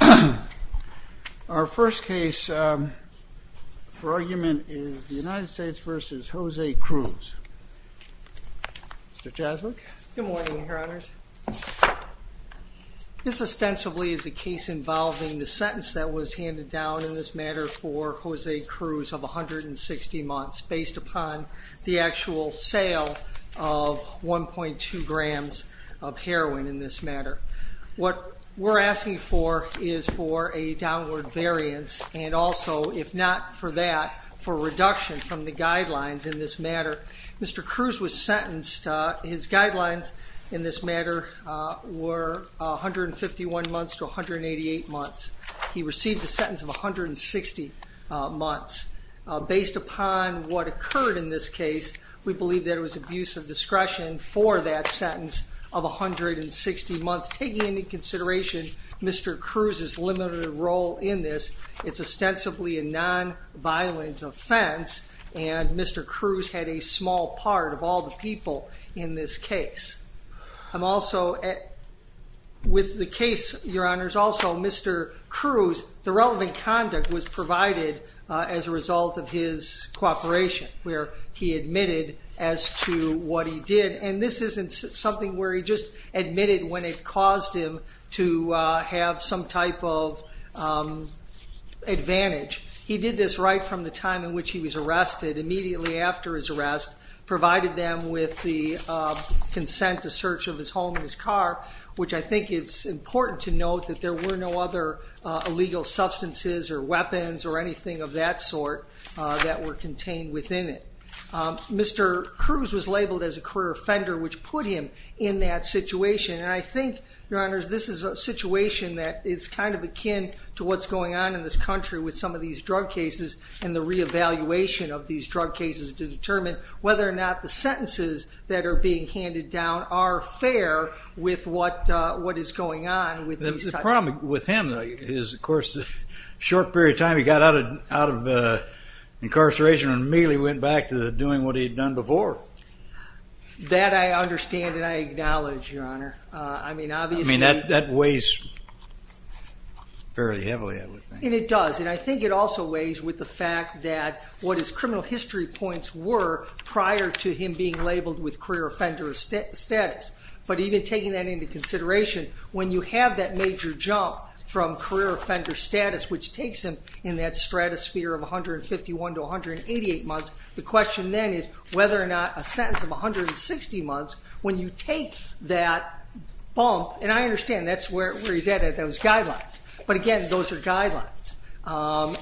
Good morning, Your Honors. This ostensibly is a case involving the sentence that was handed down in this matter for Jose Cruz of 160 months, based upon the actual sale of 1.2 grams of heroin in this matter. What we're asking for is for a downward variance and also, if not for that, for reduction from the guidelines in this matter. Mr. Cruz was sentenced, his guidelines in this matter were 151 months to 188 months. He received the use of discretion for that sentence of 160 months. Taking into consideration Mr. Cruz's limited role in this, it's ostensibly a non-violent offense, and Mr. Cruz had a small part of all the people in this case. I'm also, with the case, Your Honors, also Mr. Cruz, the and this isn't something where he just admitted when it caused him to have some type of advantage. He did this right from the time in which he was arrested, immediately after his arrest, provided them with the consent to search of his home and his car, which I think it's important to note that there were no other illegal substances or weapons or anything of that sort that were as a career offender, which put him in that situation. I think, Your Honors, this is a situation that is kind of akin to what's going on in this country with some of these drug cases and the re-evaluation of these drug cases to determine whether or not the sentences that are being handed down are fair with what is going on. The problem with him is, of course, the short period of time he got out of incarceration and immediately went back to doing what he had done before. That I understand and I acknowledge, Your Honor. That weighs fairly heavily, I would think. It does, and I think it also weighs with the fact that what his criminal history points were prior to him being labeled with career offender status. But even taking that into consideration, when you have that major jump from career offender status, which takes him in that stratosphere of 151 to 188 months, the question then is whether or not a sentence of 160 months, when you take that bump, and I understand that's where he's at with those guidelines. But again, those are guidelines.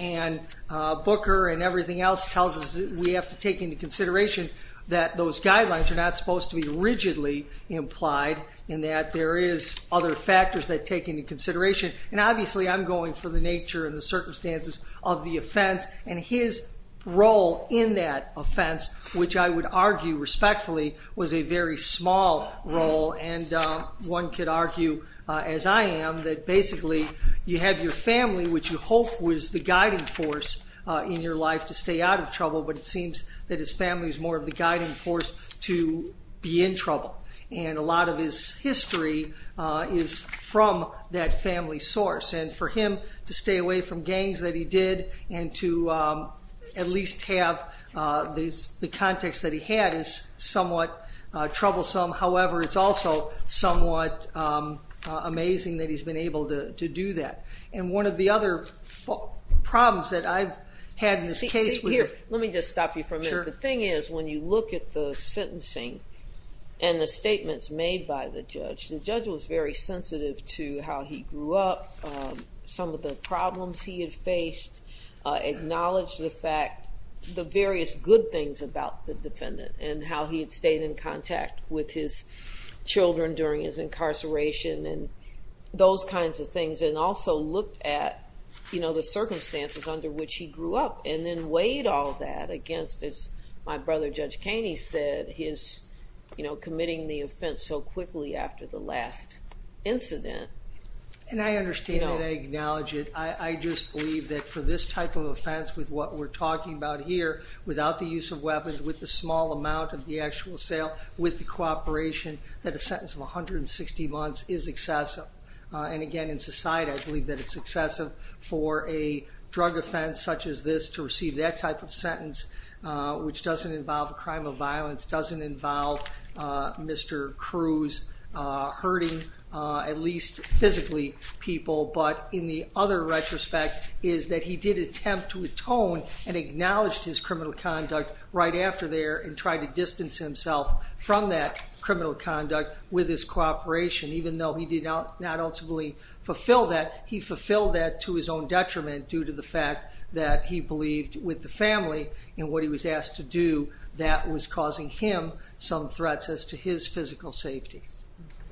And Booker and everything else tells us that we have to take into consideration that those guidelines are not supposed to be rigidly implied in that there is other factors that take into consideration. And obviously, I'm aware of the circumstances of the offense, and his role in that offense, which I would argue, respectfully, was a very small role. And one could argue, as I am, that basically you have your family, which you hope was the guiding force in your life to stay out of trouble, but it seems that his family is more of the guiding force to be in trouble. And a lot of his history is from that family source. And for him to stay away from gangs that he did, and to at least have the context that he had, is somewhat troublesome. However, it's also somewhat amazing that he's been able to do that. And one of the other problems that I've had in this case was... Here, let me just stop you for a minute. The thing is, when you look at the sentencing and the statements made by the judge, the judge was very sensitive to how he grew up, some of the problems he had faced, acknowledged the fact... The various good things about the defendant, and how he had stayed in contact with his children during his incarceration, and those kinds of things. And also looked at the circumstances under which he grew up, and then weighed all that against, as my brother Judge Kaney said, his committing the offense so quickly after the last incident. And I understand that, I acknowledge it. I just believe that for this type of offense, with what we're talking about here, without the use of weapons, with the small amount of the actual sale, with the cooperation, that a sentence of 160 months is excessive. And again, in society, I believe that it's excessive for a drug offense such as this to receive that type of sentence, which doesn't involve a crime of violence, doesn't involve Mr. Cruz hurting, at least physically, people. But in the other retrospect, is that he did attempt to atone, and acknowledged his criminal conduct right after there, and tried to distance himself from that criminal conduct with his cooperation. Even though he did not ultimately fulfill that, he fulfilled that to his own detriment, due to the fact that he believed with the family, and what he was asked to do, that was causing him some threats as to his physical safety.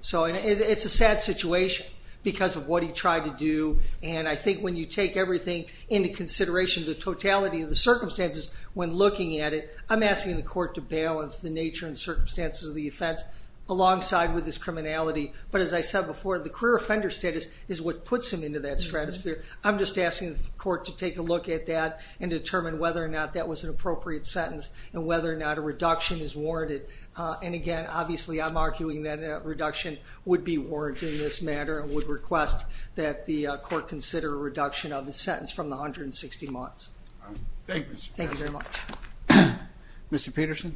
So it's a sad situation, because of what he tried to do, and I think when you take everything into consideration, the totality of the circumstances, when looking at it, I'm asking the court to look at the nature and circumstances of the offense, alongside with his criminality. But as I said before, the career offender status is what puts him into that stratosphere. I'm just asking the court to take a look at that, and determine whether or not that was an appropriate sentence, and whether or not a reduction is warranted. And again, obviously I'm arguing that a reduction would be warranted in this matter, and would request that the court consider a reduction of the sentence from the 160 months. Thank you, Mr. President. Thank you very much. Mr. Peterson.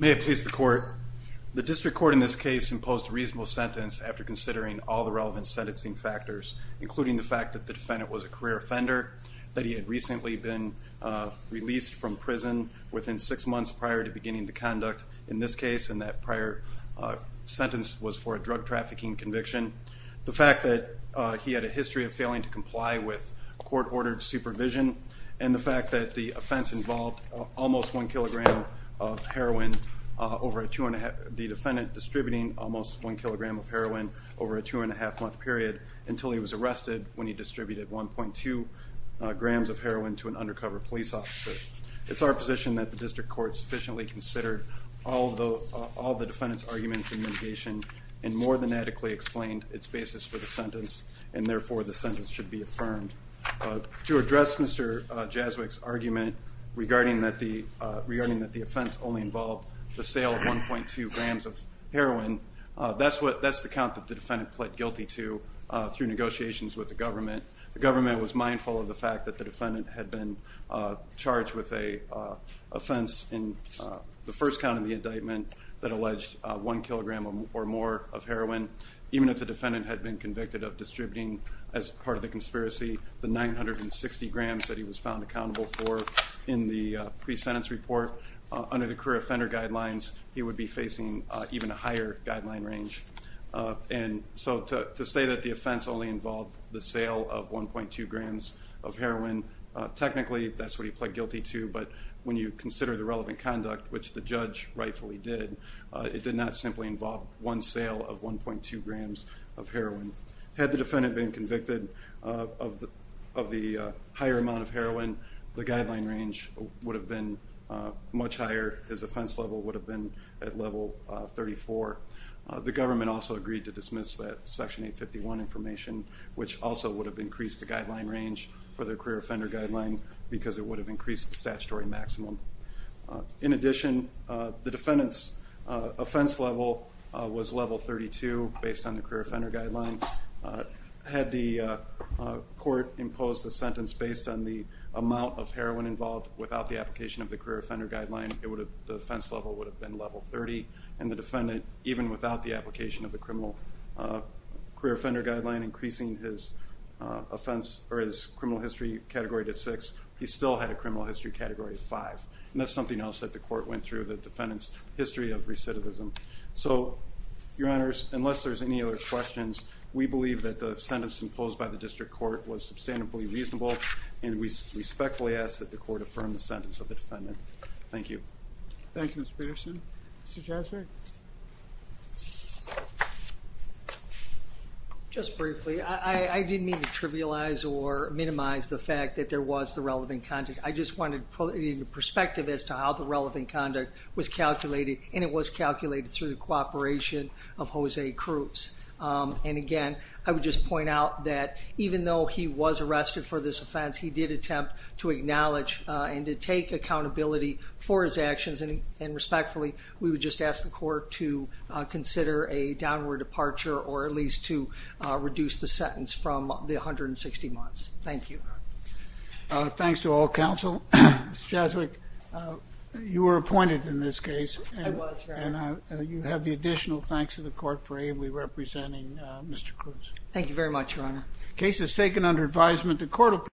May it please the court, the district court in this case imposed a reasonable sentence after considering all the relevant sentencing factors, including the fact that the defendant was a career offender, that he had recently been released from prison within six months prior to beginning the conduct in this case, and that prior sentence was for a drug trafficking conviction. The fact that he had a history of failing to comply with court ordered supervision, and the fact that the offense involved almost one kilogram of heroin, the defendant distributing almost one kilogram of heroin over a two and a half month period, until he was arrested when he distributed 1.2 grams of heroin to an undercover police officer. It's our position that the district court sufficiently considered all the defendant's arguments and mitigation, and more than adequately explained its basis for the sentence, and therefore the sentence should be affirmed. To address Mr. Jaswyck's argument regarding that the offense only involved the sale of 1.2 grams of heroin, that's the count that the defendant pled guilty to through negotiations with the government. The government was mindful of the fact that the defendant had been charged with an offense in the first count of the indictment that alleged one kilogram or more of heroin, even if the defendant had been convicted of distributing, as part of the conspiracy, the 960 grams that he was found accountable for in the pre-sentence report. Under the career offender guidelines, he would be facing even a higher guideline range. And so to say that the offense only involved the sale of 1.2 grams of heroin, technically that's what he pled guilty to, but when you consider the relevant conduct, which the judge rightfully did, it did not simply involve one sale of 1.2 grams of heroin. Had the defendant been convicted of the higher amount of heroin, the guideline range would have been much higher. His offense level would have been at level 34. The government also agreed to dismiss that Section 851 information, which also would have increased the guideline range for the career offender guideline because it would have increased the statutory maximum. In addition, the defendant's offense level was level 32, based on the career offender guideline. Had the court imposed the sentence based on the amount of heroin involved without the application of the career offender guideline, the offense level would have been level 30, and the defendant, even without the application of the career offender guideline, increasing his offense, or his criminal history category to six, he still had a criminal history category of five. And that's something else that the court went through, the defendant's history of recidivism. So, your honors, unless there's any other questions, we believe that the sentence imposed by the district court was sustainably reasonable, and we respectfully ask that the court affirm the sentence of the defendant. Thank you. Thank you, Mr. Peterson. Mr. Jasper? Just briefly, I didn't mean to trivialize or minimize the fact that there was the relevant conduct. I just wanted to put it in perspective as to how the relevant conduct was calculated, and it was calculated through the cooperation of Jose Cruz. And again, I would just point out that even though he was arrested for this offense, he did attempt to acknowledge and to take accountability for his actions, and respectfully, we would just ask the court to consider a downward departure, or at least to reduce the sentence from the 160 months. Thank you. Thanks to all counsel. Ms. Jaswick, you were appointed in this case, and you have the additional thanks to the court for ably representing Mr. Cruz. Thank you very much, your honor. The case is taken under advisement of the Court of Appeals.